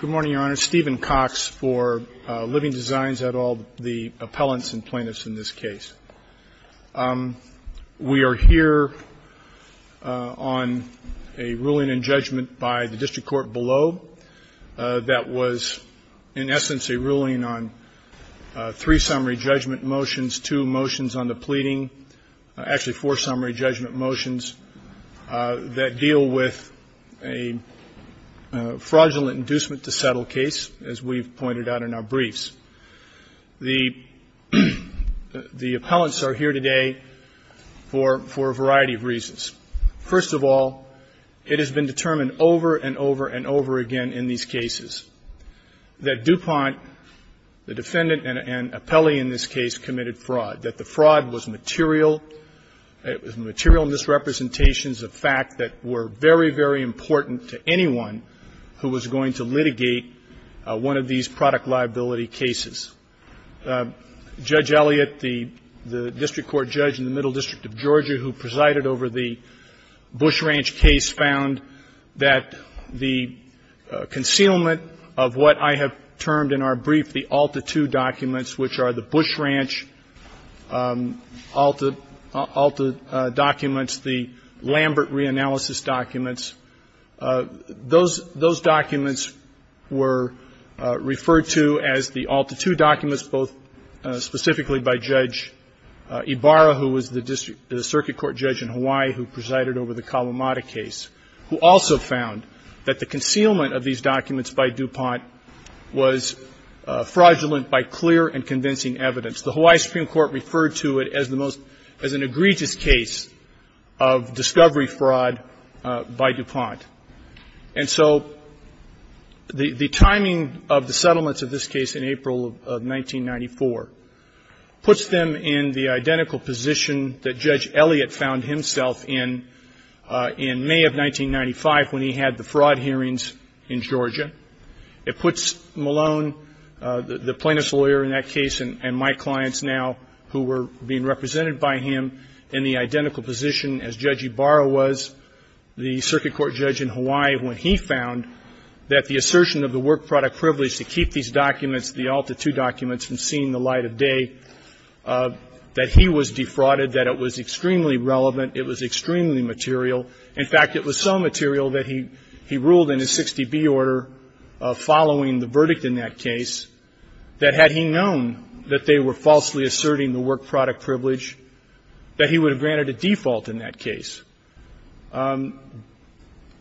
Good morning, Your Honor. Stephen Cox for Living Designs, et al., the appellants and plaintiffs in this case. We are here on a ruling and judgment by the district court below that was in essence a ruling on three summary judgment motions, two motions on the pleading, actually four summary judgment motions that deal with a fraudulent inducement to settle case, as we've pointed out in our briefs. The appellants are here today for a variety of reasons. First of all, it has been determined over and over and over again in these cases that Dupont, the defendant, and Appelli in this case committed fraud, that the fraud was material. It was material misrepresentations of fact that were very, very important to anyone who was going to litigate one of these product liability cases. Judge Elliott, the district court judge in the Middle District of Georgia who presided over the Bush Ranch case, found that the concealment of what I have termed in our brief the Alta II documents, which are the Bush Ranch Alta documents, the Lambert reanalysis documents, those documents were referred to as the Alta II documents, both specifically by Judge Ibarra, who was the circuit court judge in Hawaii who presided over the Kalamata case, who also found that the concealment of these documents by Dupont was fraudulent by clear and convincing evidence. The Hawaii Supreme Court referred to it as an egregious case of discovery fraud by Dupont. And so the timing of the settlements of this case in April of 1994 puts them in the identical position that Judge Elliott found himself in in May of 1995 when he had the fraud hearings in Georgia. It puts Malone, the plaintiff's lawyer in that case and my clients now who were being represented by him in the identical position as Judge Ibarra was, the circuit court judge in Hawaii, when he found that the assertion of the work product privilege to keep these documents, the Alta II documents, from seeing the light of day, that he was defrauded, that it was extremely relevant, it was extremely material. In fact, it was so material that he ruled in his 60B order following the verdict in that case that had he known that they were falsely asserting the work product privilege, that he would have granted a default in that case.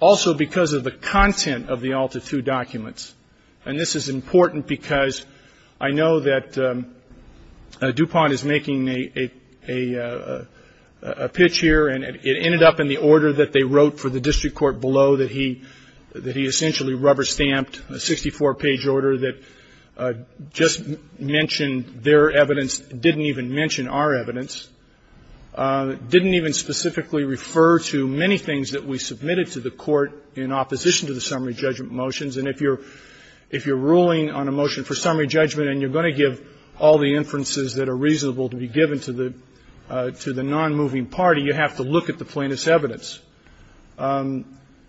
Also because of the content of the Alta II documents, and this is important because I know that Dupont is making a pitch here, and it ended up in the order that they wrote for the district court below, that he essentially rubber-stamped a 64-page order that just mentioned their evidence, didn't even mention our evidence, didn't even specifically refer to many things that we submitted to the court in opposition to the summary judgment motions. And if you're ruling on a motion for summary judgment and you're going to give all the inferences that are reasonable to be given to the nonmoving party, you have to look at the plaintiff's evidence,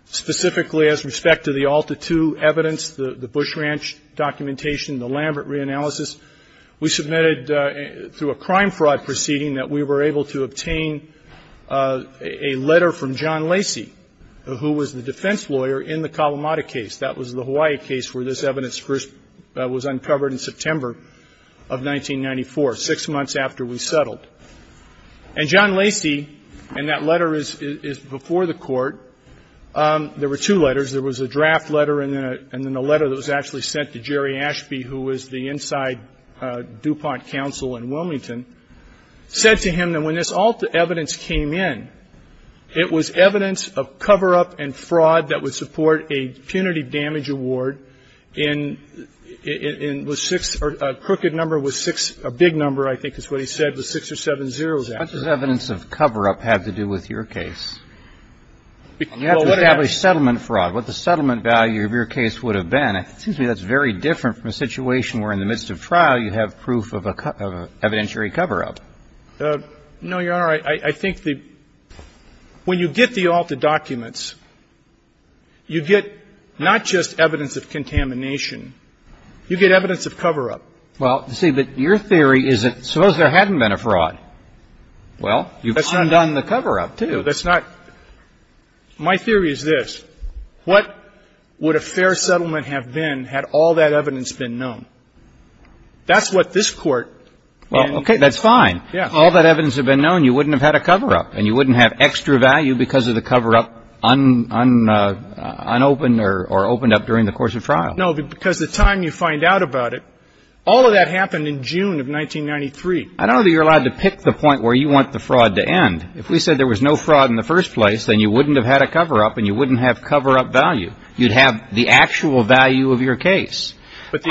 specifically as respect to the Alta II evidence, the Bush Ranch documentation, the Lambert reanalysis. We submitted through a crime fraud proceeding that we were able to obtain a letter from John Lacy, who was the defense lawyer in the Kalamata case. That was the Hawaii case where this evidence was uncovered in September of 1994, six months after we settled. And John Lacy, and that letter is before the court, there were two letters. There was a draft letter and then a letter that was actually sent to Jerry Ashby, who was the inside Dupont counsel in Wilmington, said to him that when this Alta II evidence came in, it was evidence of cover-up and fraud that would support a punitive damage award in the six or a crooked number with six, a big number, I think is what he said, with six or seven zeroes after it. What does evidence of cover-up have to do with your case? You have to establish settlement fraud. What the settlement value of your case would have been. It seems to me that's very different from a situation where in the midst of trial you have proof of a evidentiary cover-up. No, Your Honor. I think the — when you get the Alta documents, you get not just evidence of contamination. You get evidence of cover-up. Well, see, but your theory is that suppose there hadn't been a fraud. Well, you've undone the cover-up, too. No, that's not — my theory is this. What would a fair settlement have been had all that evidence been known? That's what this Court and — Well, okay, that's fine. Yes. If all that evidence had been known, you wouldn't have had a cover-up and you wouldn't have extra value because of the cover-up unopened or opened up during the course of trial. No, because the time you find out about it, all of that happened in June of 1993. I don't know that you're allowed to pick the point where you want the fraud to end. If we said there was no fraud in the first place, then you wouldn't have had a cover-up and you wouldn't have cover-up value. You'd have the actual value of your case. But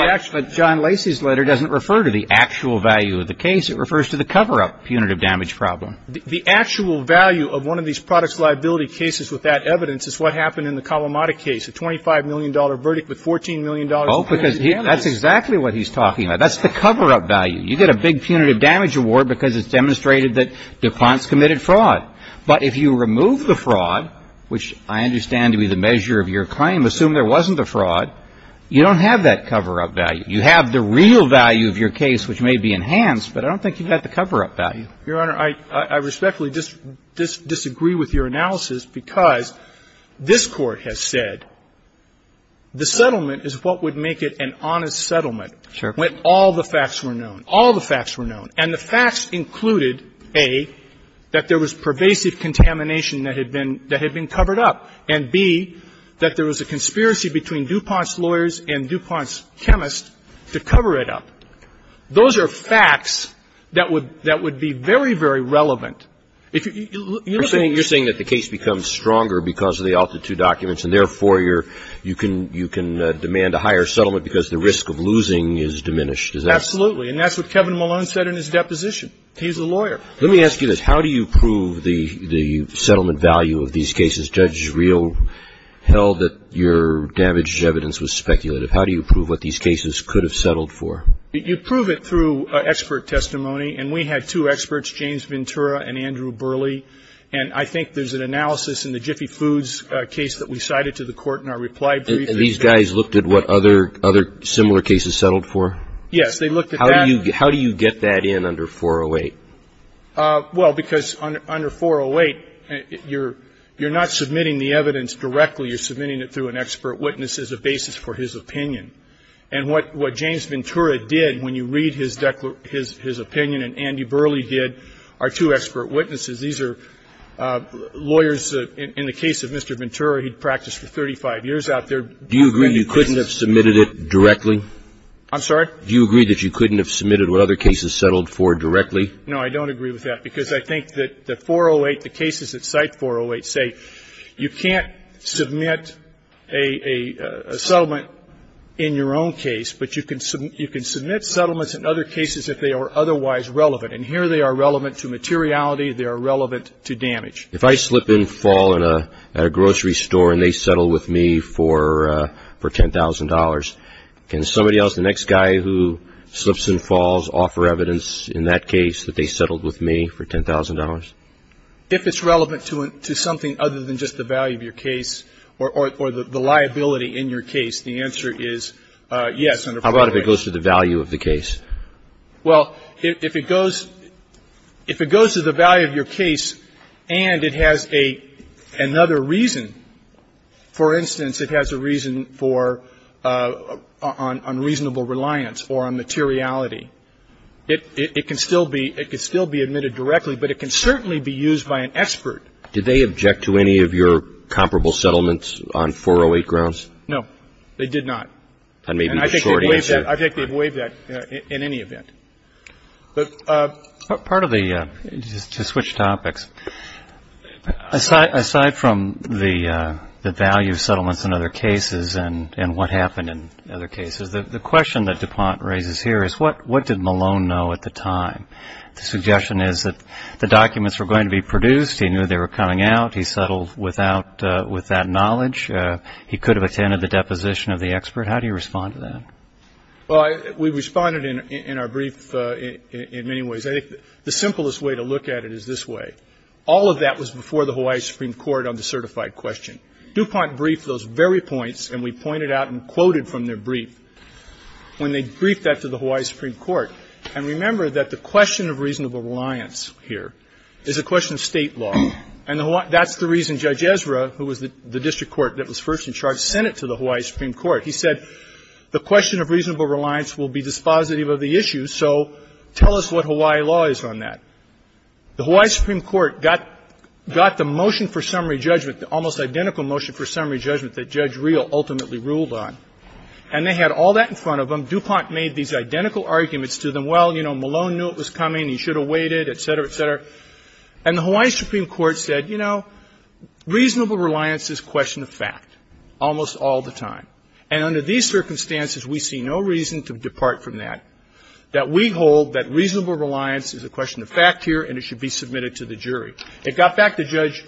John Lacey's letter doesn't refer to the actual value of the case. It refers to the cover-up punitive damage problem. The actual value of one of these products liability cases with that evidence is what happened in the Kalamata case, a $25 million verdict with $14 million in damages. Oh, because that's exactly what he's talking about. That's the cover-up value. You get a big punitive damage award because it's demonstrated that DuPont's committed fraud. But if you remove the fraud, which I understand to be the measure of your claim, assume there wasn't a fraud, you don't have that cover-up value. You have the real value of your case, which may be enhanced, but I don't think you've got the cover-up value. Your Honor, I respectfully disagree with your analysis because this Court has said the settlement is what would make it an honest settlement when all the facts were known. All the facts were known. And the facts included, A, that there was pervasive contamination that had been covered up, and, B, that there was a conspiracy between DuPont's lawyers and DuPont's chemists to cover it up. Those are facts that would be very, very relevant. You're saying that the case becomes stronger because of the altitude documents, and therefore you can demand a higher settlement because the risk of losing is diminished. Absolutely. And that's what Kevin Malone said in his deposition. He's a lawyer. Let me ask you this. How do you prove the settlement value of these cases? Judge Reel held that your damaged evidence was speculative. How do you prove what these cases could have settled for? You prove it through expert testimony, and we had two experts, James Ventura and Andrew Burley. And I think there's an analysis in the Jiffy Foods case that we cited to the Court in our reply brief. These guys looked at what other similar cases settled for? Yes, they looked at that. How do you get that in under 408? Well, because under 408, you're not submitting the evidence directly. You're submitting it through an expert witness as a basis for his opinion. And what James Ventura did, when you read his opinion and Andrew Burley did, are two expert witnesses. These are lawyers. In the case of Mr. Ventura, he practiced for 35 years out there. Do you agree you couldn't have submitted it directly? I'm sorry? Do you agree that you couldn't have submitted what other cases settled for directly? No, I don't agree with that, because I think that the 408, the cases that cite 408 say you can't submit a settlement in your own case, but you can submit settlements in other cases if they are otherwise relevant. And here they are relevant to materiality. They are relevant to damage. If I slip and fall at a grocery store and they settle with me for $10,000, can somebody else, the next guy who slips and falls, offer evidence in that case that they settled with me for $10,000? If it's relevant to something other than just the value of your case or the liability in your case, the answer is yes, under 408. How about if it goes to the value of the case? Well, if it goes to the value of your case and it has another reason, for instance, it has a reason for unreasonable reliance or on materiality, it can still be admitted directly, but it can certainly be used by an expert. Did they object to any of your comparable settlements on 408 grounds? No, they did not. That may be the short answer. And I think they've waived that in any event. Part of the ‑‑ to switch topics, aside from the value of settlements in other cases and what happened in other cases, the question that DuPont raises here is what did Malone know at the time? The suggestion is that the documents were going to be produced. He knew they were coming out. He settled with that knowledge. He could have attended the deposition of the expert. How do you respond to that? Well, we responded in our brief in many ways. I think the simplest way to look at it is this way. All of that was before the Hawaii Supreme Court on the certified question. DuPont briefed those very points, and we pointed out and quoted from their brief when they briefed that to the Hawaii Supreme Court. And remember that the question of reasonable reliance here is a question of State law. And that's the reason Judge Ezra, who was the district court that was first in charge, sent it to the Hawaii Supreme Court. He said the question of reasonable reliance will be dispositive of the issue, so tell us what Hawaii law is on that. The Hawaii Supreme Court got the motion for summary judgment, the almost identical motion for summary judgment that Judge Reel ultimately ruled on. And they had all that in front of them. DuPont made these identical arguments to them. Well, you know, Malone knew it was coming. He should have waited, et cetera, et cetera. And the Hawaii Supreme Court said, you know, reasonable reliance is a question of fact almost all the time. And under these circumstances, we see no reason to depart from that, that we hold that reasonable reliance is a question of fact here and it should be submitted to the jury. It got back to Judge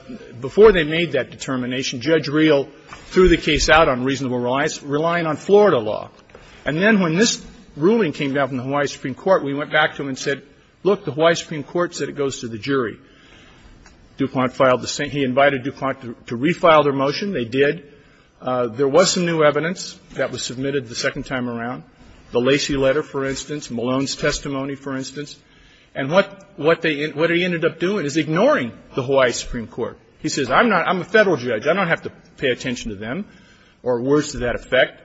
– before they made that determination, Judge Reel threw the case out on reasonable reliance, relying on Florida law. And then when this ruling came down from the Hawaii Supreme Court, we went back to them and said, look, the Hawaii Supreme Court said it goes to the jury. DuPont filed the same. He invited DuPont to refile their motion. They did. There was some new evidence that was submitted the second time around. The Lacey letter, for instance, Malone's testimony, for instance. And what they – what he ended up doing is ignoring the Hawaii Supreme Court. He says, I'm not – I'm a Federal judge. I don't have to pay attention to them, or words to that effect,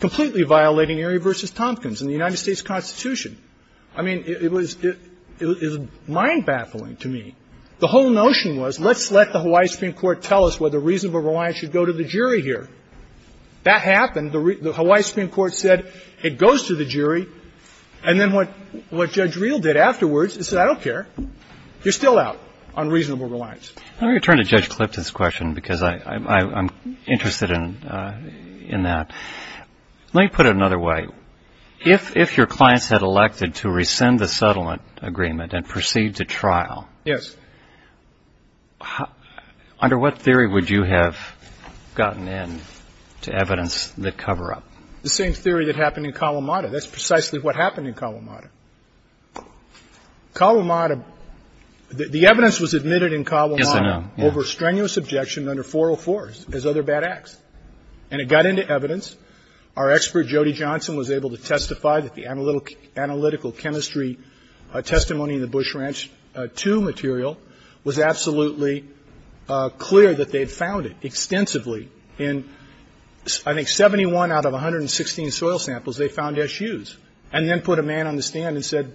completely violating Erie v. Tompkins and the United States Constitution. I mean, it was – it was mind-baffling to me. The whole notion was, let's let the Hawaii Supreme Court tell us whether reasonable reliance should go to the jury here. That happened. The Hawaii Supreme Court said it goes to the jury. And then what Judge Reel did afterwards is say, I don't care. You're still out on reasonable reliance. Let me turn to Judge Clifton's question, because I'm interested in that. Let me put it another way. If your clients had elected to rescind the settlement agreement and proceed to trial. Yes. Under what theory would you have gotten in to evidence that cover up? The same theory that happened in Kalamata. That's precisely what happened in Kalamata. Kalamata – the evidence was admitted in Kalamata. Yes, I know. Over strenuous objection under 404, as other bad acts. And it got into evidence. Our expert, Jody Johnson, was able to testify that the analytical chemistry testimony in the Bush Ranch 2 material was absolutely clear that they had found it extensively. In, I think, 71 out of 116 soil samples, they found SUs. And then put a man on the stand and said,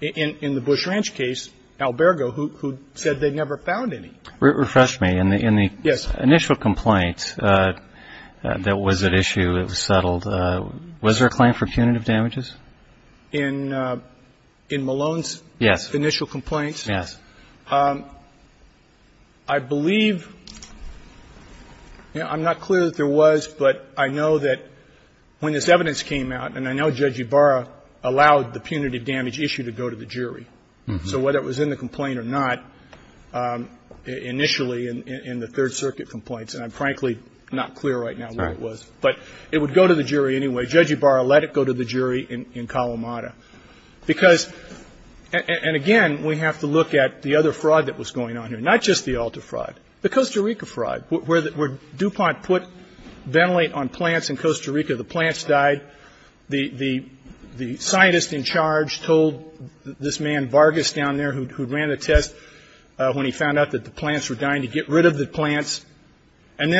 in the Bush Ranch case, Albergo, who said they never found any. Refresh me. Yes. In the initial complaint that was at issue, it was settled, was there a claim for punitive damages? In Malone's initial complaint? Yes. Yes. I believe – I'm not clear that there was, but I know that when this evidence came out, and I know Judge Ibarra allowed the punitive damage issue to go to the jury. So whether it was in the complaint or not, initially in the Third Circuit complaints – and I'm frankly not clear right now where it was – but it would go to the jury anyway. Judge Ibarra let it go to the jury in Kalamata. Because – and again, we have to look at the other fraud that was going on here. Not just the Alta fraud. The Costa Rica fraud, where DuPont put Ventilate on plants in Costa Rica. The plants died. The scientist in charge told this man Vargas down there, who ran the test when he found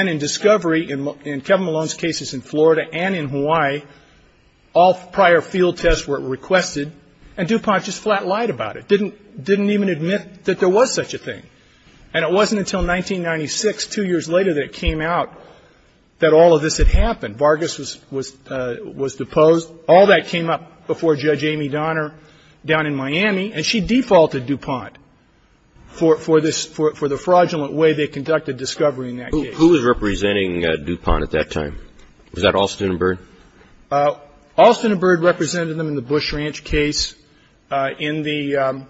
in discovery, in Kevin Malone's cases in Florida and in Hawaii, all prior field tests were requested, and DuPont just flat-lied about it. Didn't even admit that there was such a thing. And it wasn't until 1996, two years later, that it came out that all of this had happened. Vargas was deposed. All that came up before Judge Amy Donner down in Miami, and she defaulted DuPont for this – for the fraudulent way they conducted discovery in that case. Who was representing DuPont at that time? Was that Alston and Bird? Alston and Bird represented them in the Bush Ranch case. In the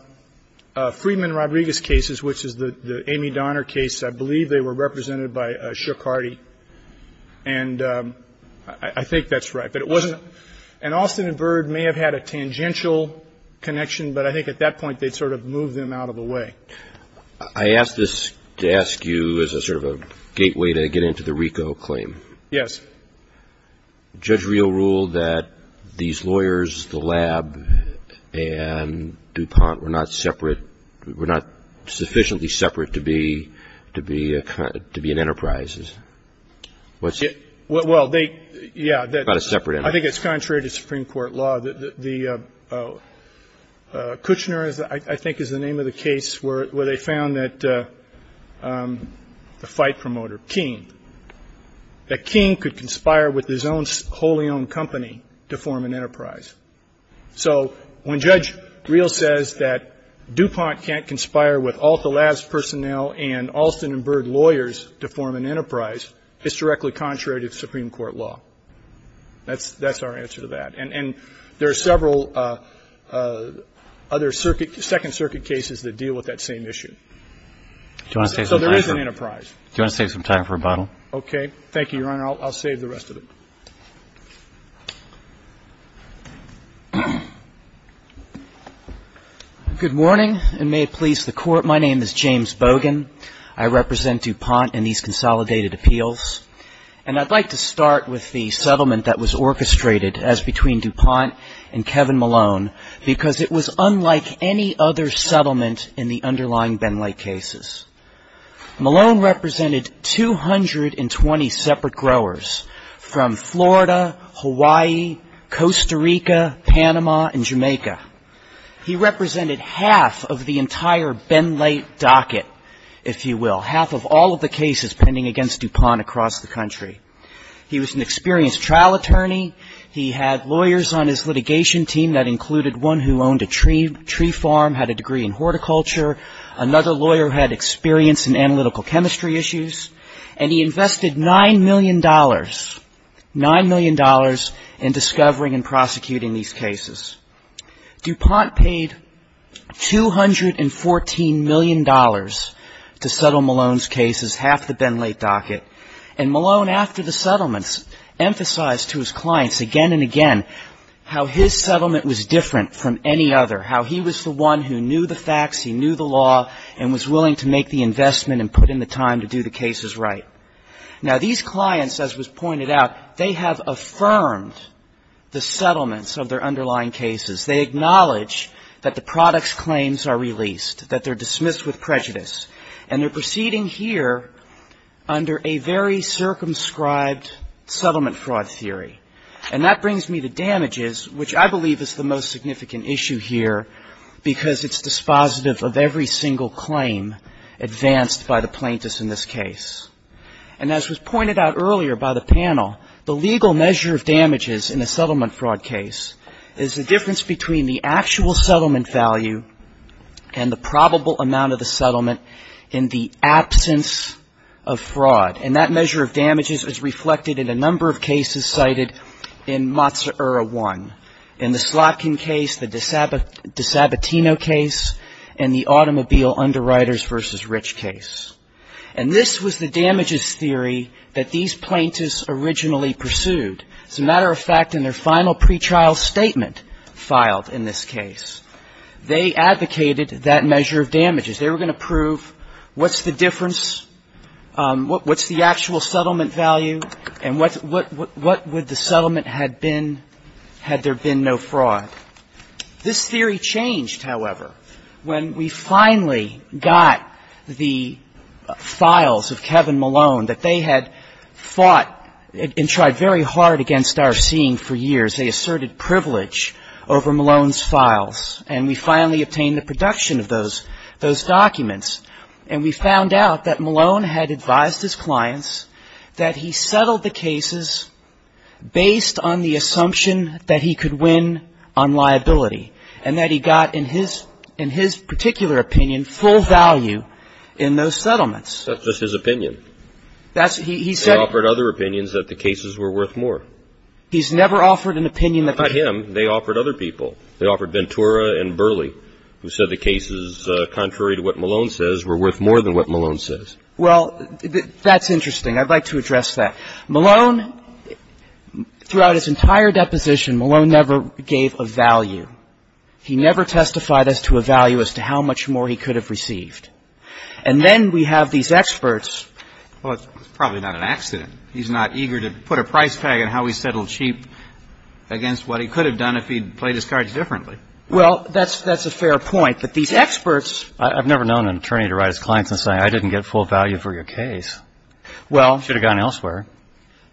Friedman-Rodriguez cases, which is the Amy Donner case, I believe they were represented by Shook Hardy. And I think that's right. But it wasn't – and Alston and Bird may have had a tangential connection, but I think at that point they'd sort of moved them out of the way. I ask this to ask you as a sort of a gateway to get into the RICO claim. Yes. Judge Real ruled that these lawyers, the lab and DuPont, were not separate – were not sufficiently separate to be – to be an enterprise. Well, they – yeah. Not a separate enterprise. I think it's contrary to Supreme Court law. The Kuchner, I think, is the name of the case where they found that the fight promoter, King, that King could conspire with his own wholly owned company to form an enterprise. So when Judge Real says that DuPont can't conspire with all the lab's personnel and Alston and Bird lawyers to form an enterprise, it's directly contrary to Supreme Court law. That's our answer to that. And there are several other circuit – Second Circuit cases that deal with that same issue. So there is an enterprise. Do you want to save some time for rebuttal? Okay. Thank you, Your Honor. I'll save the rest of it. Good morning, and may it please the Court. My name is James Bogan. I represent DuPont in these consolidated appeals. And I'd like to start with the settlement that was orchestrated as between DuPont and Kevin Malone because it was unlike any other settlement in the underlying Ben Late cases. Malone represented 220 separate growers from Florida, Hawaii, Costa Rica, Panama, and Jamaica. He represented half of the entire Ben Late docket, if you will, half of all of the cases pending against DuPont across the country. He was an experienced trial attorney. He had lawyers on his litigation team that included one who owned a tree farm, had a degree in horticulture. Another lawyer had experience in analytical chemistry issues. And he invested $9 million, $9 million, in discovering and prosecuting these cases. DuPont paid $214 million to settle Malone's cases, half the Ben Late docket. And Malone, after the settlements, emphasized to his clients again and again how his settlement was different from any other, how he was the one who knew the facts, he knew the law, and was willing to make the investment and put in the time to do the cases right. Now, these clients, as was pointed out, they have affirmed the settlements of their underlying cases. They acknowledge that the product's claims are released, that they're dismissed with prejudice. And they're proceeding here under a very circumscribed settlement fraud theory. And that brings me to damages, which I believe is the most significant issue here, because it's dispositive of every single claim advanced by the plaintiffs in this case. And as was pointed out earlier by the panel, the legal measure of damages in a settlement fraud case is the difference between the actual settlement value and the probable amount of the settlement in the absence of fraud. And that measure of damages is reflected in a number of cases cited in Mazzurra 1. In the Slotkin case, the DeSabatino case, and the automobile underwriters versus rich case. And this was the damages theory that these plaintiffs originally pursued. As a matter of fact, in their final pretrial statement filed in this case, they advocated that measure of damages. They were going to prove what's the difference, what's the actual settlement value, and what would the settlement had been had there been no fraud. This theory changed, however, when we finally got the files of Kevin Malone, that they had fought and tried very hard against our seeing for years. They asserted privilege over Malone's files. And we finally obtained the production of those documents. And we found out that Malone had advised his clients that he settled the cases based on the assumption that he could win on liability. And that he got, in his particular opinion, full value in those settlements. That's just his opinion. He said it. They offered other opinions that the cases were worth more. He's never offered an opinion that the cases were worth more. Not him. They offered other people. They offered Ventura and Burley, who said the cases, contrary to what Malone says, were worth more than what Malone says. Well, that's interesting. I'd like to address that. Malone, throughout his entire deposition, Malone never gave a value. He never testified as to a value as to how much more he could have received. And then we have these experts. Well, it's probably not an accident. He's not eager to put a price tag on how he settled cheap against what he could have done if he'd played his cards differently. Well, that's a fair point. But these experts. I've never known an attorney to write his clients and say I didn't get full value for your case. Well. I should have gone elsewhere.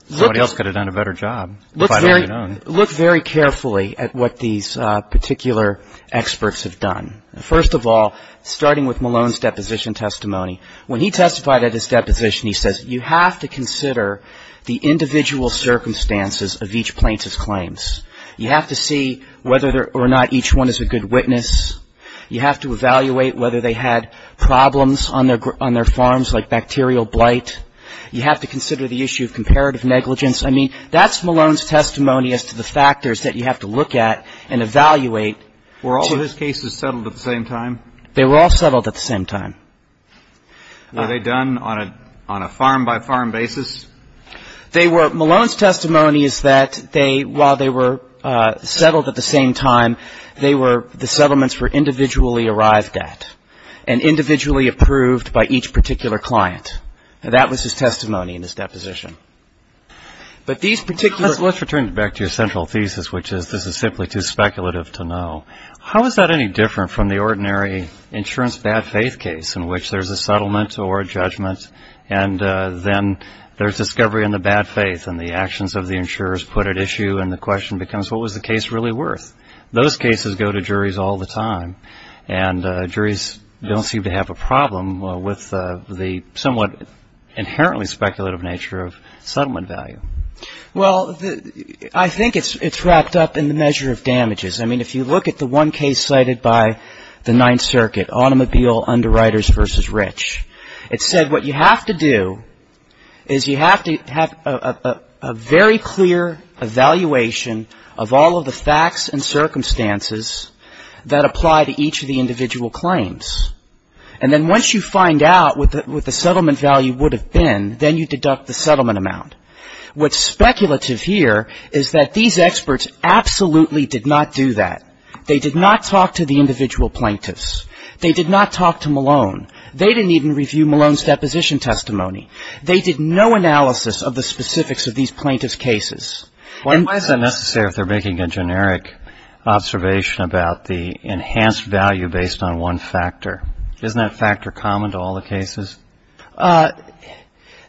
Somebody else could have done a better job. Look very carefully at what these particular experts have done. First of all, starting with Malone's deposition testimony, when he testified at his deposition, he says you have to consider the individual circumstances of each plaintiff's claims. You have to see whether or not each one is a good witness. You have to evaluate whether they had problems on their farms like bacterial blight. You have to consider the issue of comparative negligence. I mean, that's Malone's testimony as to the factors that you have to look at and evaluate. Were all of his cases settled at the same time? They were all settled at the same time. Were they done on a farm-by-farm basis? They were. Malone's testimony is that while they were settled at the same time, the settlements were individually arrived at and individually approved by each particular client. That was his testimony in his deposition. But these particular. Let's return back to your central thesis, which is this is simply too speculative to know. How is that any different from the ordinary insurance bad faith case in which there's a settlement or a judgment and then there's discovery in the bad faith and the actions of the insurers put at issue and the question becomes what was the case really worth? Those cases go to juries all the time, and juries don't seem to have a problem with the somewhat inherently speculative nature of settlement value. Well, I think it's wrapped up in the measure of damages. I mean, if you look at the one case cited by the Ninth Circuit, automobile underwriters versus rich, it said what you have to do is you have to have a very clear evaluation of all of the facts and circumstances that apply to each of the individual claims. And then once you find out what the settlement value would have been, then you deduct the settlement amount. What's speculative here is that these experts absolutely did not do that. They did not talk to the individual plaintiffs. They did not talk to Malone. They didn't even review Malone's deposition testimony. They did no analysis of the specifics of these plaintiffs' cases. Why is that necessary if they're making a generic observation about the enhanced value based on one factor? Isn't that factor common to all the cases?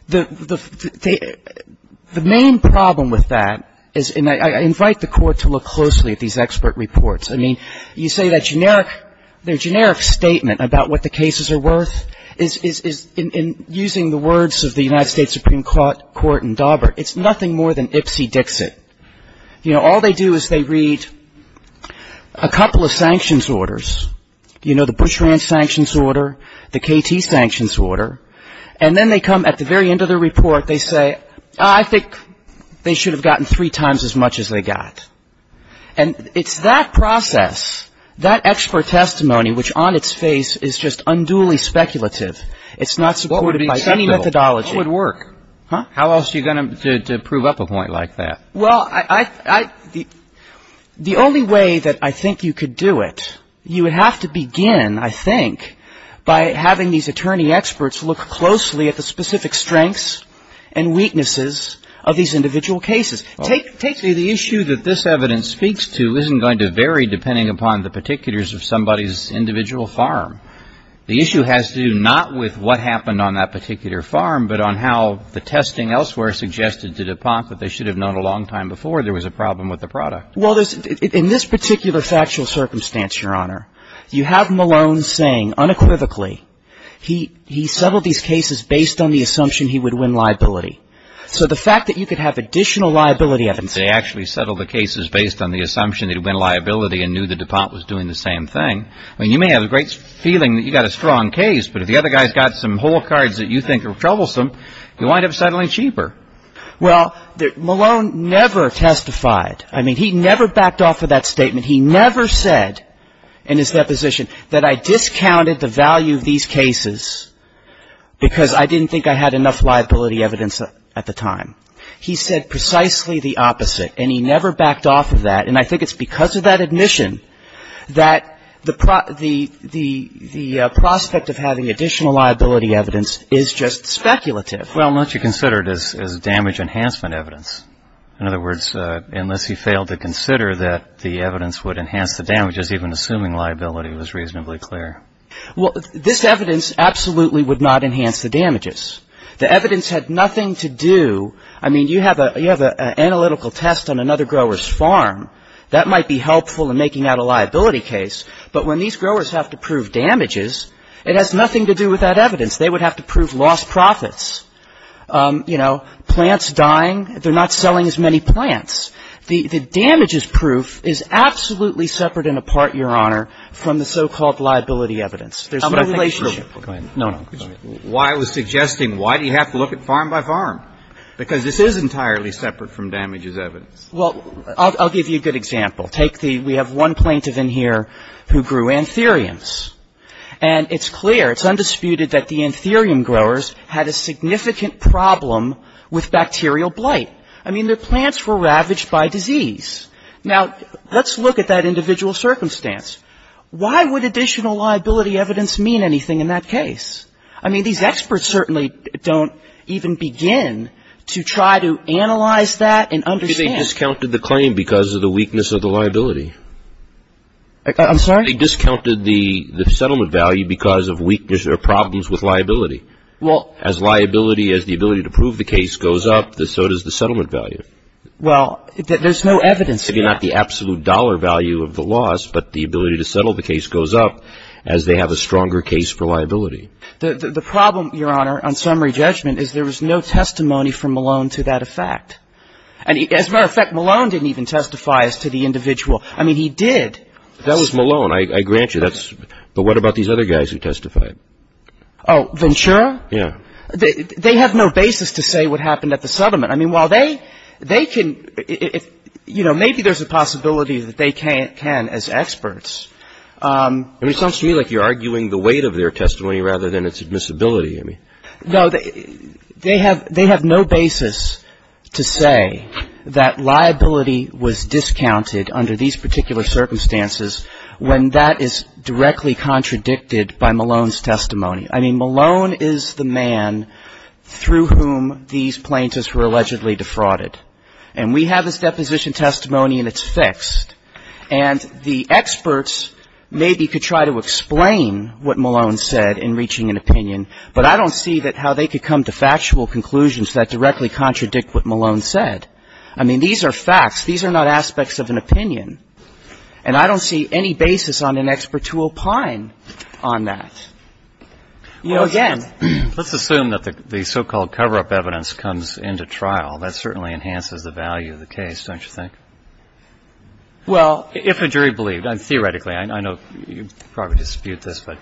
The main problem with that is, and I invite the Court to look closely at these expert reports. I mean, you say that generic statement about what the cases are worth is, in using the words of the United States Supreme Court in Daubert, it's nothing more than ipsy-dixit. You know, all they do is they read a couple of sanctions orders, you know, the Bushranch sanctions order, the KT sanctions order, and then they come at the very end of the report, they say, I think they should have gotten three times as much as they got. And it's that process, that expert testimony, which on its face is just unduly speculative. It's not supported by any methodology. What would work? Huh? How else are you going to prove up a point like that? Well, the only way that I think you could do it, you would have to begin, I think, by having these attorney experts look closely at the specific strengths and weaknesses of these individual cases. Take the issue that this evidence speaks to isn't going to vary depending upon the particulars of somebody's individual farm. The issue has to do not with what happened on that particular farm, but on how the testing elsewhere suggested to DuPont that they should have known a long time before there was a problem with the product. Well, in this particular factual circumstance, Your Honor, you have Malone saying unequivocally he settled these cases based on the assumption he would win liability. So the fact that you could have additional liability evidence. They actually settled the cases based on the assumption they'd win liability and knew that DuPont was doing the same thing. I mean, you may have a great feeling that you've got a strong case, but if the other guy's got some whole cards that you think are troublesome, you wind up settling cheaper. Well, Malone never testified. I mean, he never backed off of that statement. He never said in his deposition that I discounted the value of these cases because I didn't think I had enough liability evidence at the time. He said precisely the opposite, and he never backed off of that. And I think it's because of that admission that the prospect of having additional liability evidence is just speculative. Well, much considered as damage enhancement evidence. In other words, unless he failed to consider that the evidence would enhance the damages, even assuming liability was reasonably clear. Well, this evidence absolutely would not enhance the damages. The evidence had nothing to do. I mean, you have an analytical test on another grower's farm. That might be helpful in making out a liability case. But when these growers have to prove damages, it has nothing to do with that evidence. They would have to prove lost profits. You know, plants dying. They're not selling as many plants. The damages proof is absolutely separate and apart, Your Honor, from the so-called liability evidence. There's no relationship. Go ahead. No, no. I was suggesting why do you have to look at farm by farm? Because this is entirely separate from damages evidence. Well, I'll give you a good example. Take the we have one plaintiff in here who grew anthuriums. And it's clear, it's undisputed that the anthurium growers had a significant problem with bacterial blight. I mean, their plants were ravaged by disease. Now, let's look at that individual circumstance. Why would additional liability evidence mean anything in that case? I mean, these experts certainly don't even begin to try to analyze that and understand. They discounted the claim because of the weakness of the liability. I'm sorry? As liability, as the ability to prove the case goes up, so does the settlement value. Well, there's no evidence yet. Maybe not the absolute dollar value of the loss, but the ability to settle the case goes up as they have a stronger case for liability. The problem, Your Honor, on summary judgment is there was no testimony from Malone to that effect. As a matter of fact, Malone didn't even testify as to the individual. I mean, he did. That was Malone, I grant you. But what about these other guys who testified? Oh, Ventura? Yeah. They have no basis to say what happened at the settlement. I mean, while they can, you know, maybe there's a possibility that they can as experts. I mean, it sounds to me like you're arguing the weight of their testimony rather than its admissibility. No, they have no basis to say that liability was discounted under these particular circumstances when that is directly contradicted by Malone's testimony. I mean, Malone is the man through whom these plaintiffs were allegedly defrauded. And we have this deposition testimony and it's fixed. And the experts maybe could try to explain what Malone said in reaching an opinion, but I don't see that how they could come to factual conclusions that directly contradict what Malone said. I mean, these are facts. These are not aspects of an opinion. And I don't see any basis on an expert to opine on that. You know, again ---- Well, let's assume that the so-called cover-up evidence comes into trial. That certainly enhances the value of the case, don't you think? Well ---- If a jury believed. And theoretically, I know you probably dispute this, but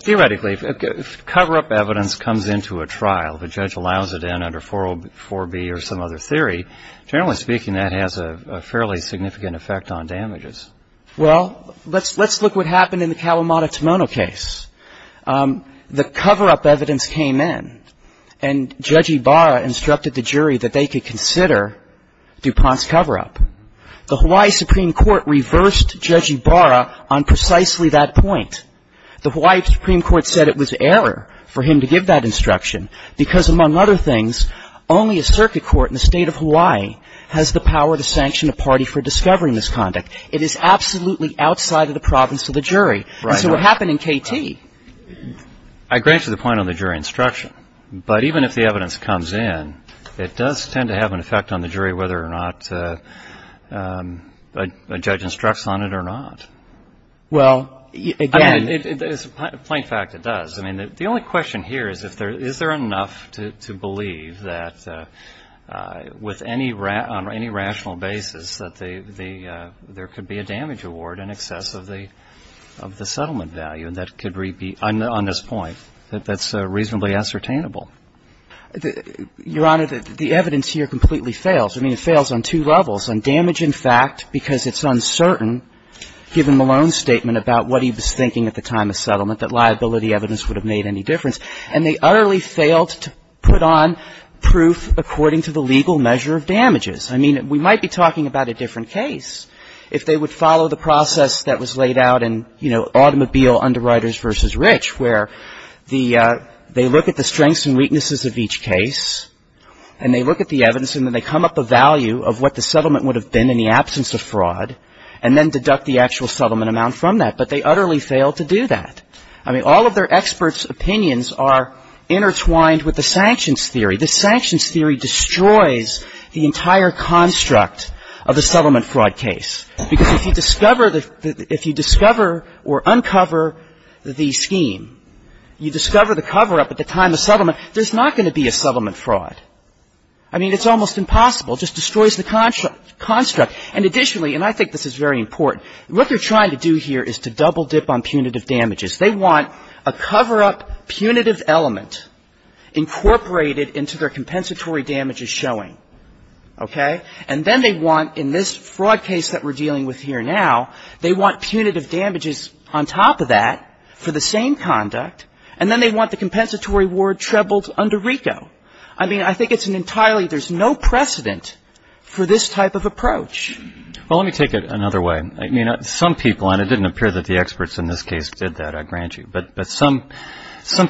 theoretically, if cover-up evidence comes into a trial, if a judge allows it in under 404B or some other theory, generally speaking, that has a fairly significant effect on damages. Well, let's look what happened in the Kalamata-Tamono case. The cover-up evidence came in. And Judge Ibarra instructed the jury that they could consider DuPont's cover-up. The Hawaii Supreme Court reversed Judge Ibarra on precisely that point. The Hawaii Supreme Court said it was error for him to give that instruction, because, among other things, only a circuit court in the State of Hawaii has the power to sanction a party for discovering this conduct. It is absolutely outside of the province of the jury. Right. And so what happened in KT? I grant you the point on the jury instruction. But even if the evidence comes in, it does tend to have an effect on the jury whether or not a judge instructs on it or not. Well, again ---- Plain fact, it does. I mean, the only question here is, is there enough to believe that, with any rational basis, that there could be a damage award in excess of the settlement value that could be on this point, that that's reasonably ascertainable? Your Honor, the evidence here completely fails. I mean, it fails on two levels. On damage, in fact, because it's uncertain, given Malone's statement about what he was thinking at the time of settlement, that liability evidence would have made any difference. And they utterly failed to put on proof according to the legal measure of damages. I mean, we might be talking about a different case if they would follow the process that was laid out in, you know, automobile underwriters versus rich, where the ---- they look at the strengths and weaknesses of each case, and they look at the evidence, and then they come up a value of what the settlement would have been in the absence of fraud, and then deduct the actual settlement amount from that. But they utterly failed to do that. I mean, all of their experts' opinions are intertwined with the sanctions theory. The sanctions theory destroys the entire construct of the settlement fraud case, because if you discover the ---- if you discover or uncover the scheme, you discover the cover-up at the time of settlement, there's not going to be a settlement fraud. I mean, it's almost impossible. It just destroys the construct. And additionally, and I think this is very important, what they're trying to do here is to double-dip on punitive damages. They want a cover-up punitive element incorporated into their compensatory damages showing. Okay? And then they want, in this fraud case that we're dealing with here now, they want punitive damages on top of that for the same conduct, and then they want the compensatory award trebled under RICO. I mean, I think it's an entirely ---- there's no precedent for this type of approach. Well, let me take it another way. I mean, some people, and it didn't appear that the experts in this case did that, I grant you, but some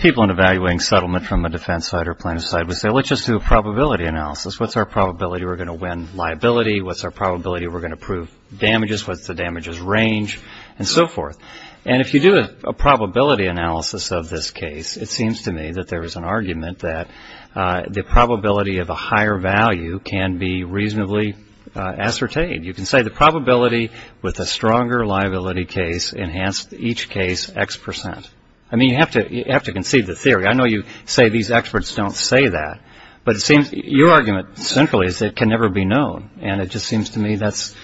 people in evaluating settlement from a defense side or plaintiff's side would say, let's just do a probability analysis. What's our probability we're going to win liability? What's our probability we're going to prove damages? What's the damages range? And so forth. And if you do a probability analysis of this case, it seems to me that there is an argument that the probability of a higher value can be reasonably ascertained. You can say the probability with a stronger liability case enhanced each case X percent. I mean, you have to conceive the theory. I know you say these experts don't say that, but it seems your argument centrally is it can never be known, and it just seems to me that's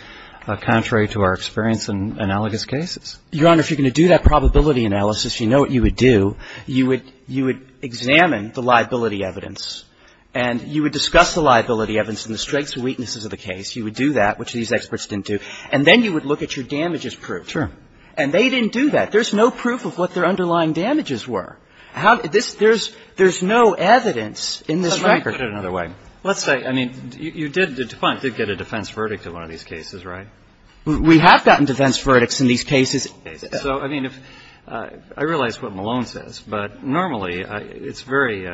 contrary to our experience in analogous cases. Your Honor, if you're going to do that probability analysis, you know what you would do. You would examine the liability evidence and you would discuss the liability evidence and the strengths and weaknesses of the case. You would do that, which these experts didn't do, and then you would look at your damages proof. True. And they didn't do that. There's no proof of what their underlying damages were. There's no evidence in this record. Let's put it another way. Let's say, I mean, you did get a defense verdict in one of these cases, right? We have gotten defense verdicts in these cases. So, I mean, I realize what Malone says, but normally it's very,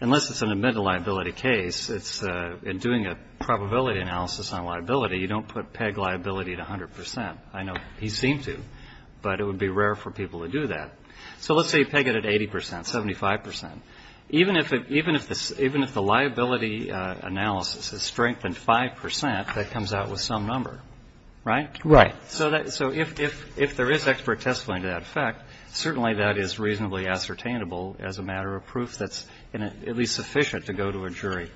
unless it's an admitted liability case, in doing a probability analysis on liability, you don't put peg liability at 100 percent. I know he seemed to, but it would be rare for people to do that. So let's say you peg it at 80 percent, 75 percent. Even if the liability analysis is strengthened 5 percent, that comes out with some number, right? Right. So if there is expert testimony to that effect, certainly that is reasonably ascertainable as a matter of proof that's at least sufficient to go to a jury.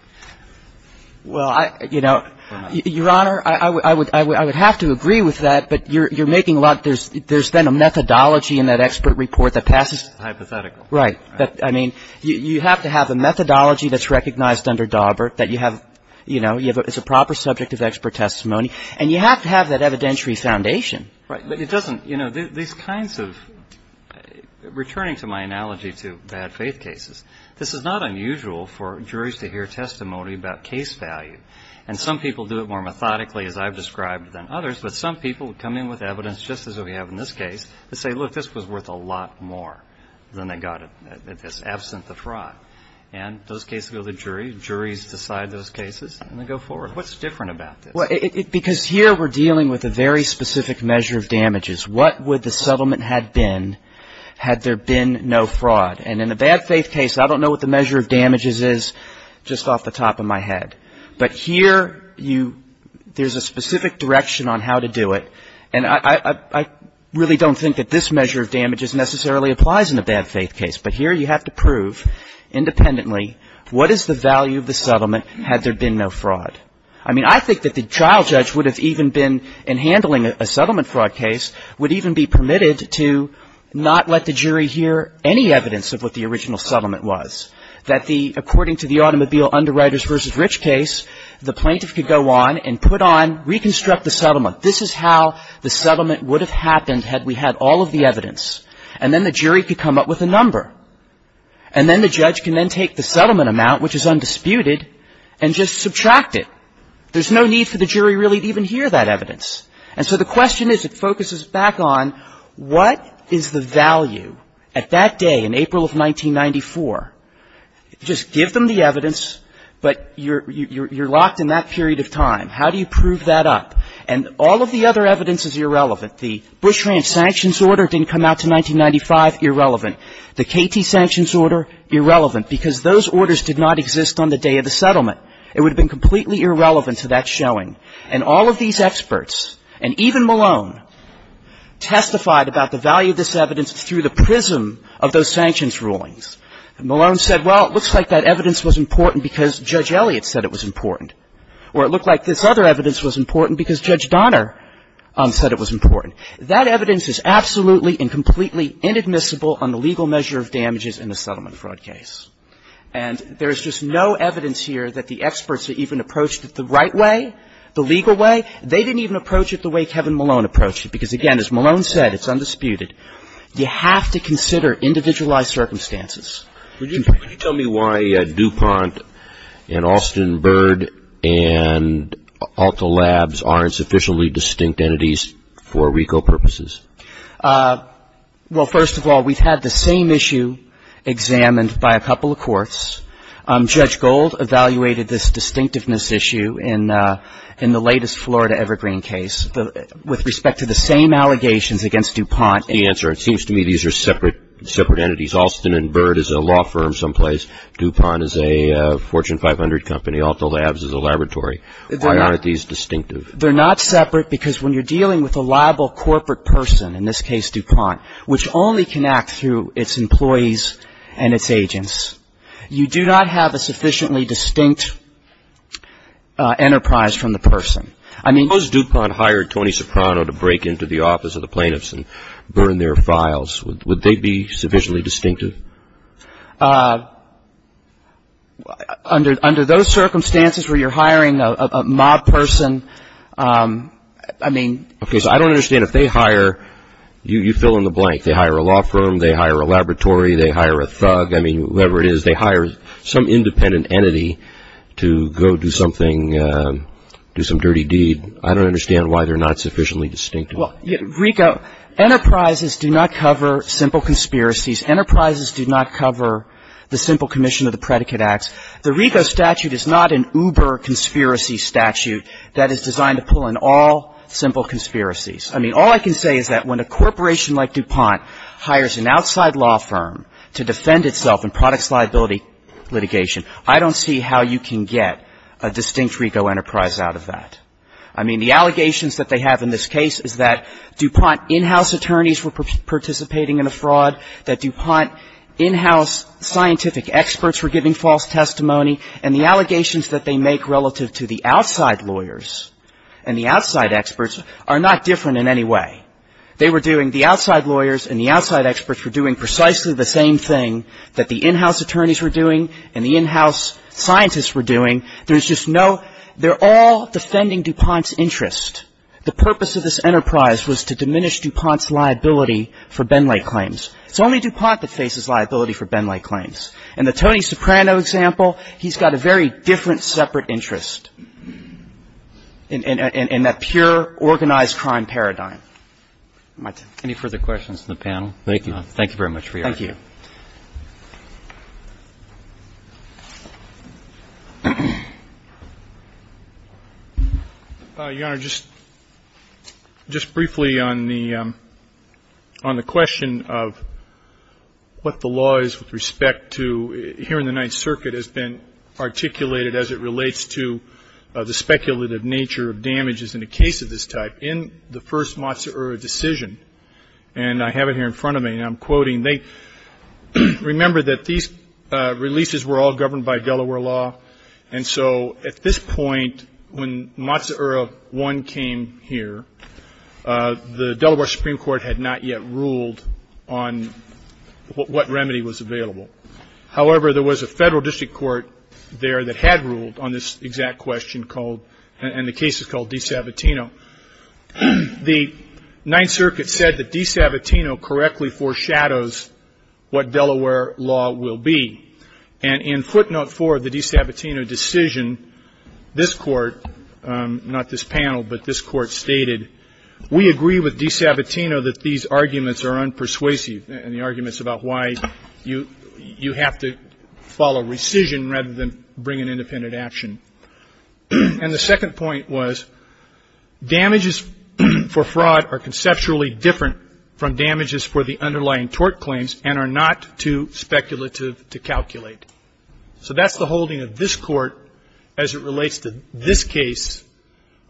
Well, I, you know, Your Honor, I would have to agree with that, but you're making a lot, there's then a methodology in that expert report that passes. Hypothetical. Right. I mean, you have to have a methodology that's recognized under Daubert that you have, you know, it's a proper subject of expert testimony. And you have to have that evidentiary foundation. Right. But it doesn't, you know, these kinds of, returning to my analogy to bad faith cases, this is not unusual for juries to hear testimony about case value. And some people do it more methodically, as I've described, than others. But some people come in with evidence, just as we have in this case, to say, look, this was worth a lot more than they got at this, absent the fraud. And those cases go to the jury. Juries decide those cases, and they go forward. What's different about this? Well, because here we're dealing with a very specific measure of damages. What would the settlement have been had there been no fraud? And in a bad faith case, I don't know what the measure of damages is just off the top of my head. But here you, there's a specific direction on how to do it. And I really don't think that this measure of damages necessarily applies in a bad faith case. But here you have to prove independently what is the value of the settlement had there been no fraud. I mean, I think that the trial judge would have even been, in handling a settlement fraud case, would even be permitted to not let the jury hear any evidence of what the original settlement was, that the, according to the automobile underwriters v. Rich case, the plaintiff could go on and put on, reconstruct the settlement. This is how the settlement would have happened had we had all of the evidence. And then the jury could come up with a number. And then the judge can then take the settlement amount, which is undisputed, and just subtract it. There's no need for the jury really to even hear that evidence. And so the question is, it focuses back on what is the value at that day in April of 1994? Just give them the evidence, but you're locked in that period of time. How do you prove that up? And all of the other evidence is irrelevant. The Bush Ranch sanctions order didn't come out to 1995, irrelevant. The KT sanctions order, irrelevant, because those orders did not exist on the day of the settlement. It would have been completely irrelevant to that showing. And all of these experts, and even Malone, testified about the value of this evidence through the prism of those sanctions rulings. Malone said, well, it looks like that evidence was important because Judge Elliott said it was important. Or it looked like this other evidence was important because Judge Donner said it was important. That evidence is absolutely and completely inadmissible on the legal measure of damages in a settlement fraud case. And there is just no evidence here that the experts even approached it the right way, the legal way. They didn't even approach it the way Kevin Malone approached it. Because, again, as Malone said, it's undisputed. You have to consider individualized circumstances. Could you tell me why DuPont and Alston Bird and Alta Labs aren't sufficiently distinct entities for RICO purposes? Well, first of all, we've had the same issue examined by a couple of courts. Judge Gold evaluated this distinctiveness issue in the latest Florida Evergreen case. With respect to the same allegations against DuPont. That's the answer. It seems to me these are separate entities. Alston and Bird is a law firm someplace. DuPont is a Fortune 500 company. Alta Labs is a laboratory. Why aren't these distinctive? They're not separate because when you're dealing with a liable corporate person, in this case DuPont, which only can act through its employees and its agents, you do not have a sufficiently distinct enterprise from the person. Suppose DuPont hired Tony Soprano to break into the office of the plaintiffs and burn their files. Would they be sufficiently distinctive? Under those circumstances where you're hiring a mob person, I mean. Okay, so I don't understand. If they hire, you fill in the blank. They hire a law firm. They hire a laboratory. They hire a thug. I mean, whoever it is. They hire some independent entity to go do something, do some dirty deed. I don't understand why they're not sufficiently distinctive. Well, RICO, enterprises do not cover simple conspiracies. Enterprises do not cover the simple commission of the predicate acts. The RICO statute is not an uber conspiracy statute that is designed to pull in all simple conspiracies. I mean, all I can say is that when a corporation like DuPont hires an outside law firm to defend itself in products liability litigation, I don't see how you can get a distinct RICO enterprise out of that. I mean, the allegations that they have in this case is that DuPont in-house attorneys were participating in a fraud, that DuPont in-house scientific experts were giving false testimony. And the allegations that they make relative to the outside lawyers and the outside experts are not different in any way. They were doing, the outside lawyers and the outside experts were doing precisely the same thing that the in-house attorneys were doing and the in-house scientists were doing. There's just no, they're all defending DuPont's interest. The purpose of this enterprise was to diminish DuPont's liability for Benley claims. It's only DuPont that faces liability for Benley claims. In the Tony Soprano example, he's got a very different separate interest in that pure organized crime paradigm. My turn. Any further questions from the panel? Thank you. Thank you very much for your time. Thank you. Your Honor, just briefly on the question of what the law is with respect to, here in the Ninth Circuit has been articulated as it relates to the speculative nature of damages in a case of this type. In the first Matsuura decision, and I have it here in front of me, and I'm quoting, they remember that these releases were all governed by Delaware law, and so at this point when Matsuura 1 came here, the Delaware Supreme Court had not yet ruled on what remedy was available. However, there was a federal district court there that had ruled on this exact question called, and the case is called Di Sabatino. The Ninth Circuit said that Di Sabatino correctly foreshadows what Delaware law will be, and in footnote 4 of the Di Sabatino decision, this court, not this panel, but this court stated, we agree with Di Sabatino that these arguments are unpersuasive, and the arguments about why you have to follow rescission rather than bring an independent action. And the second point was, damages for fraud are conceptually different from damages for the underlying tort claims and are not too speculative to calculate. So that's the holding of this court as it relates to this case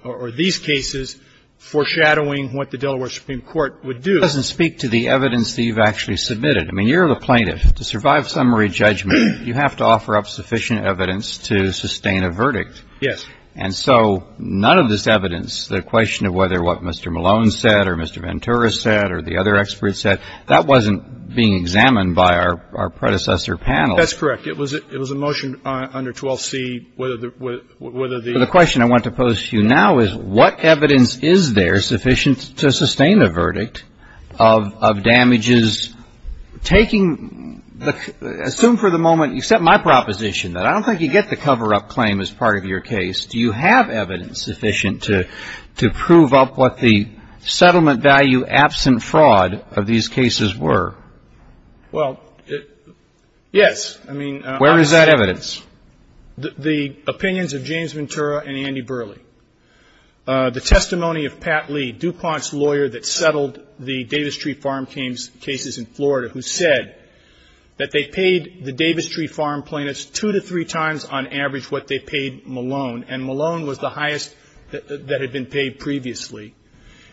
or these cases foreshadowing what the Delaware Supreme Court would do. It doesn't speak to the evidence that you've actually submitted. I mean, you're the plaintiff. To survive summary judgment, you have to offer up sufficient evidence to sustain a verdict. Yes. And so none of this evidence, the question of whether what Mr. Malone said or Mr. Ventura said or the other experts said, that wasn't being examined by our predecessor panel. That's correct. It was a motion under 12C, whether the ---- Well, the question I want to pose to you now is, what evidence is there sufficient to sustain a verdict of damages taking, assume for the moment, except my proposition that I don't think you get the cover-up claim as part of your case. Do you have evidence sufficient to prove up what the settlement value absent fraud of these cases were? Well, yes. I mean ---- Where is that evidence? The opinions of James Ventura and Andy Burley. The testimony of Pat Lee, DuPont's lawyer that settled the Davis Tree Farm cases in Florida, who said that they paid the Davis Tree Farm plaintiffs two to three times on average what they paid Malone, and Malone was the highest that had been paid previously.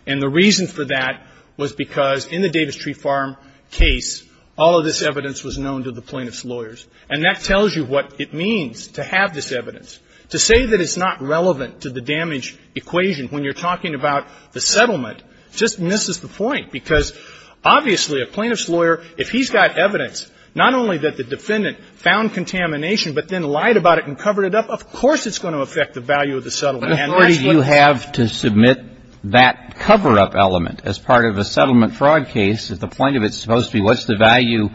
And the reason for that was because in the Davis Tree Farm case, all of this evidence was known to the plaintiffs' lawyers. And that tells you what it means to have this evidence. To say that it's not relevant to the damage equation when you're talking about the settlement just misses the point. Because obviously a plaintiff's lawyer, if he's got evidence, not only that the defendant found contamination but then lied about it and covered it up, of course it's going to affect the value of the settlement. And that's what ---- But if you have to submit that cover-up element as part of a settlement fraud case, the point of it is supposed to be what's the value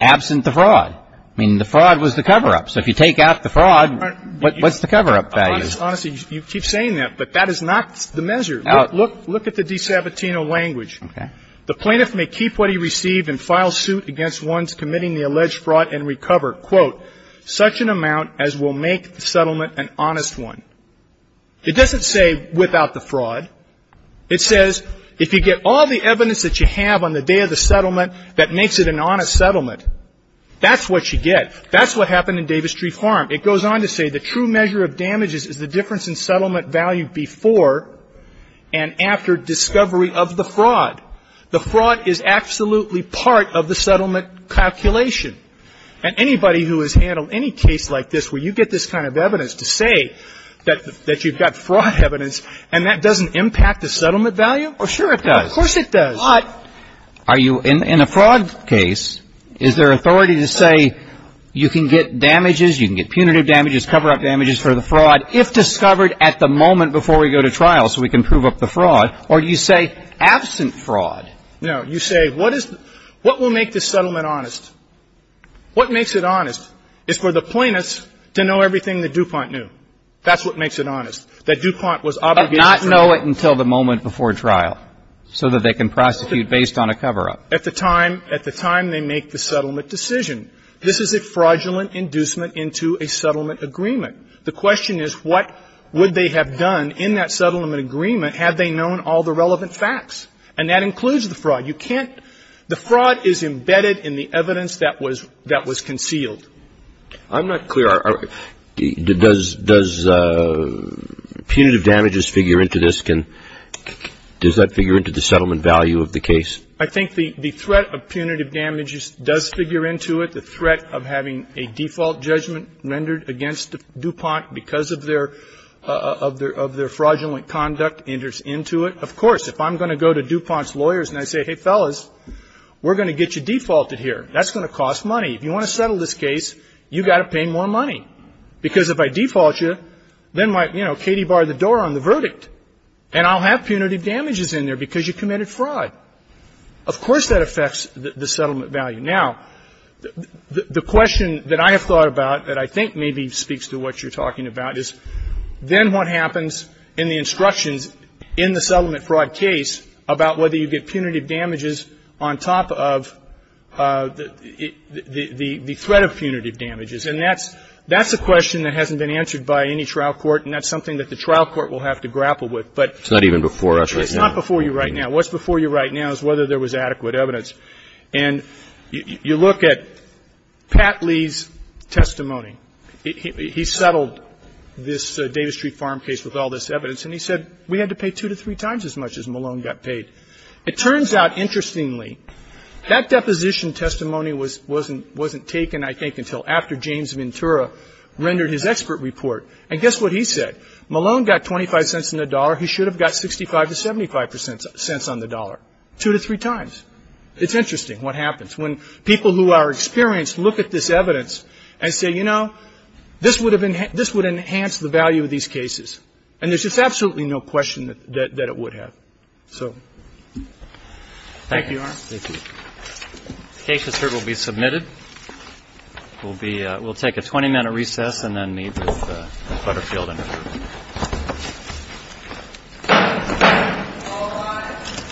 absent the fraud. I mean, the fraud was the cover-up. So if you take out the fraud, what's the cover-up value? Honestly, you keep saying that, but that is not the measure. Look at the De Sabatino language. Okay. The plaintiff may keep what he received and file suit against ones committing the alleged fraud and recover, quote, such an amount as will make the settlement an honest one. It doesn't say without the fraud. It says if you get all the evidence that you have on the day of the settlement that makes it an honest settlement, that's what you get. That's what happened in Davis Street Farm. It goes on to say the true measure of damages is the difference in settlement value before and after discovery of the fraud. The fraud is absolutely part of the settlement calculation. And anybody who has handled any case like this where you get this kind of evidence to say that you've got fraud evidence and that doesn't impact the settlement value? Oh, sure it does. Of course it does. But are you in a fraud case, is there authority to say you can get damages, you can get punitive damages, cover-up damages for the fraud if discovered at the moment before we go to trial so we can prove up the fraud? Or do you say absent fraud? No. You say what is the – what will make this settlement honest? What makes it honest is for the plaintiffs to know everything that DuPont knew. That's what makes it honest, that DuPont was obligated to know. So they know it until the moment before trial so that they can prosecute based on a cover-up. At the time they make the settlement decision. This is a fraudulent inducement into a settlement agreement. The question is what would they have done in that settlement agreement had they known all the relevant facts? And that includes the fraud. You can't – the fraud is embedded in the evidence that was concealed. I'm not clear. Does punitive damages figure into this? Can – does that figure into the settlement value of the case? I think the threat of punitive damages does figure into it. The threat of having a default judgment rendered against DuPont because of their fraudulent conduct enters into it. Of course, if I'm going to go to DuPont's lawyers and I say, hey, fellas, we're going to get you defaulted here. That's going to cost money. If you want to settle this case, you've got to pay more money. Because if I default you, then my, you know, Katie barred the door on the verdict and I'll have punitive damages in there because you committed fraud. Of course that affects the settlement value. Now, the question that I have thought about that I think maybe speaks to what you're talking about is then what happens in the instructions in the settlement fraud case about whether you get punitive damages on top of the threat of punitive damages? And that's a question that hasn't been answered by any trial court and that's something that the trial court will have to grapple with. But it's not even before us right now. It's not before you right now. What's before you right now is whether there was adequate evidence. And you look at Pat Lee's testimony. He settled this Davis Street Farm case with all this evidence. And he said we had to pay two to three times as much as Malone got paid. It turns out, interestingly, that deposition testimony wasn't taken, I think, until after James Ventura rendered his expert report. And guess what he said. Malone got 25 cents on the dollar. He should have got 65 to 75 cents on the dollar, two to three times. It's interesting what happens when people who are experienced look at this evidence and say, you know, this would have enhanced the value of these cases. And there's just absolutely no question that it would have. So thank you, Your Honor. Thank you. The case, it's heard, will be submitted. We'll take a 20-minute recess and then meet with Butterfield and her group. All rise. This court stands recess is 20 minutes.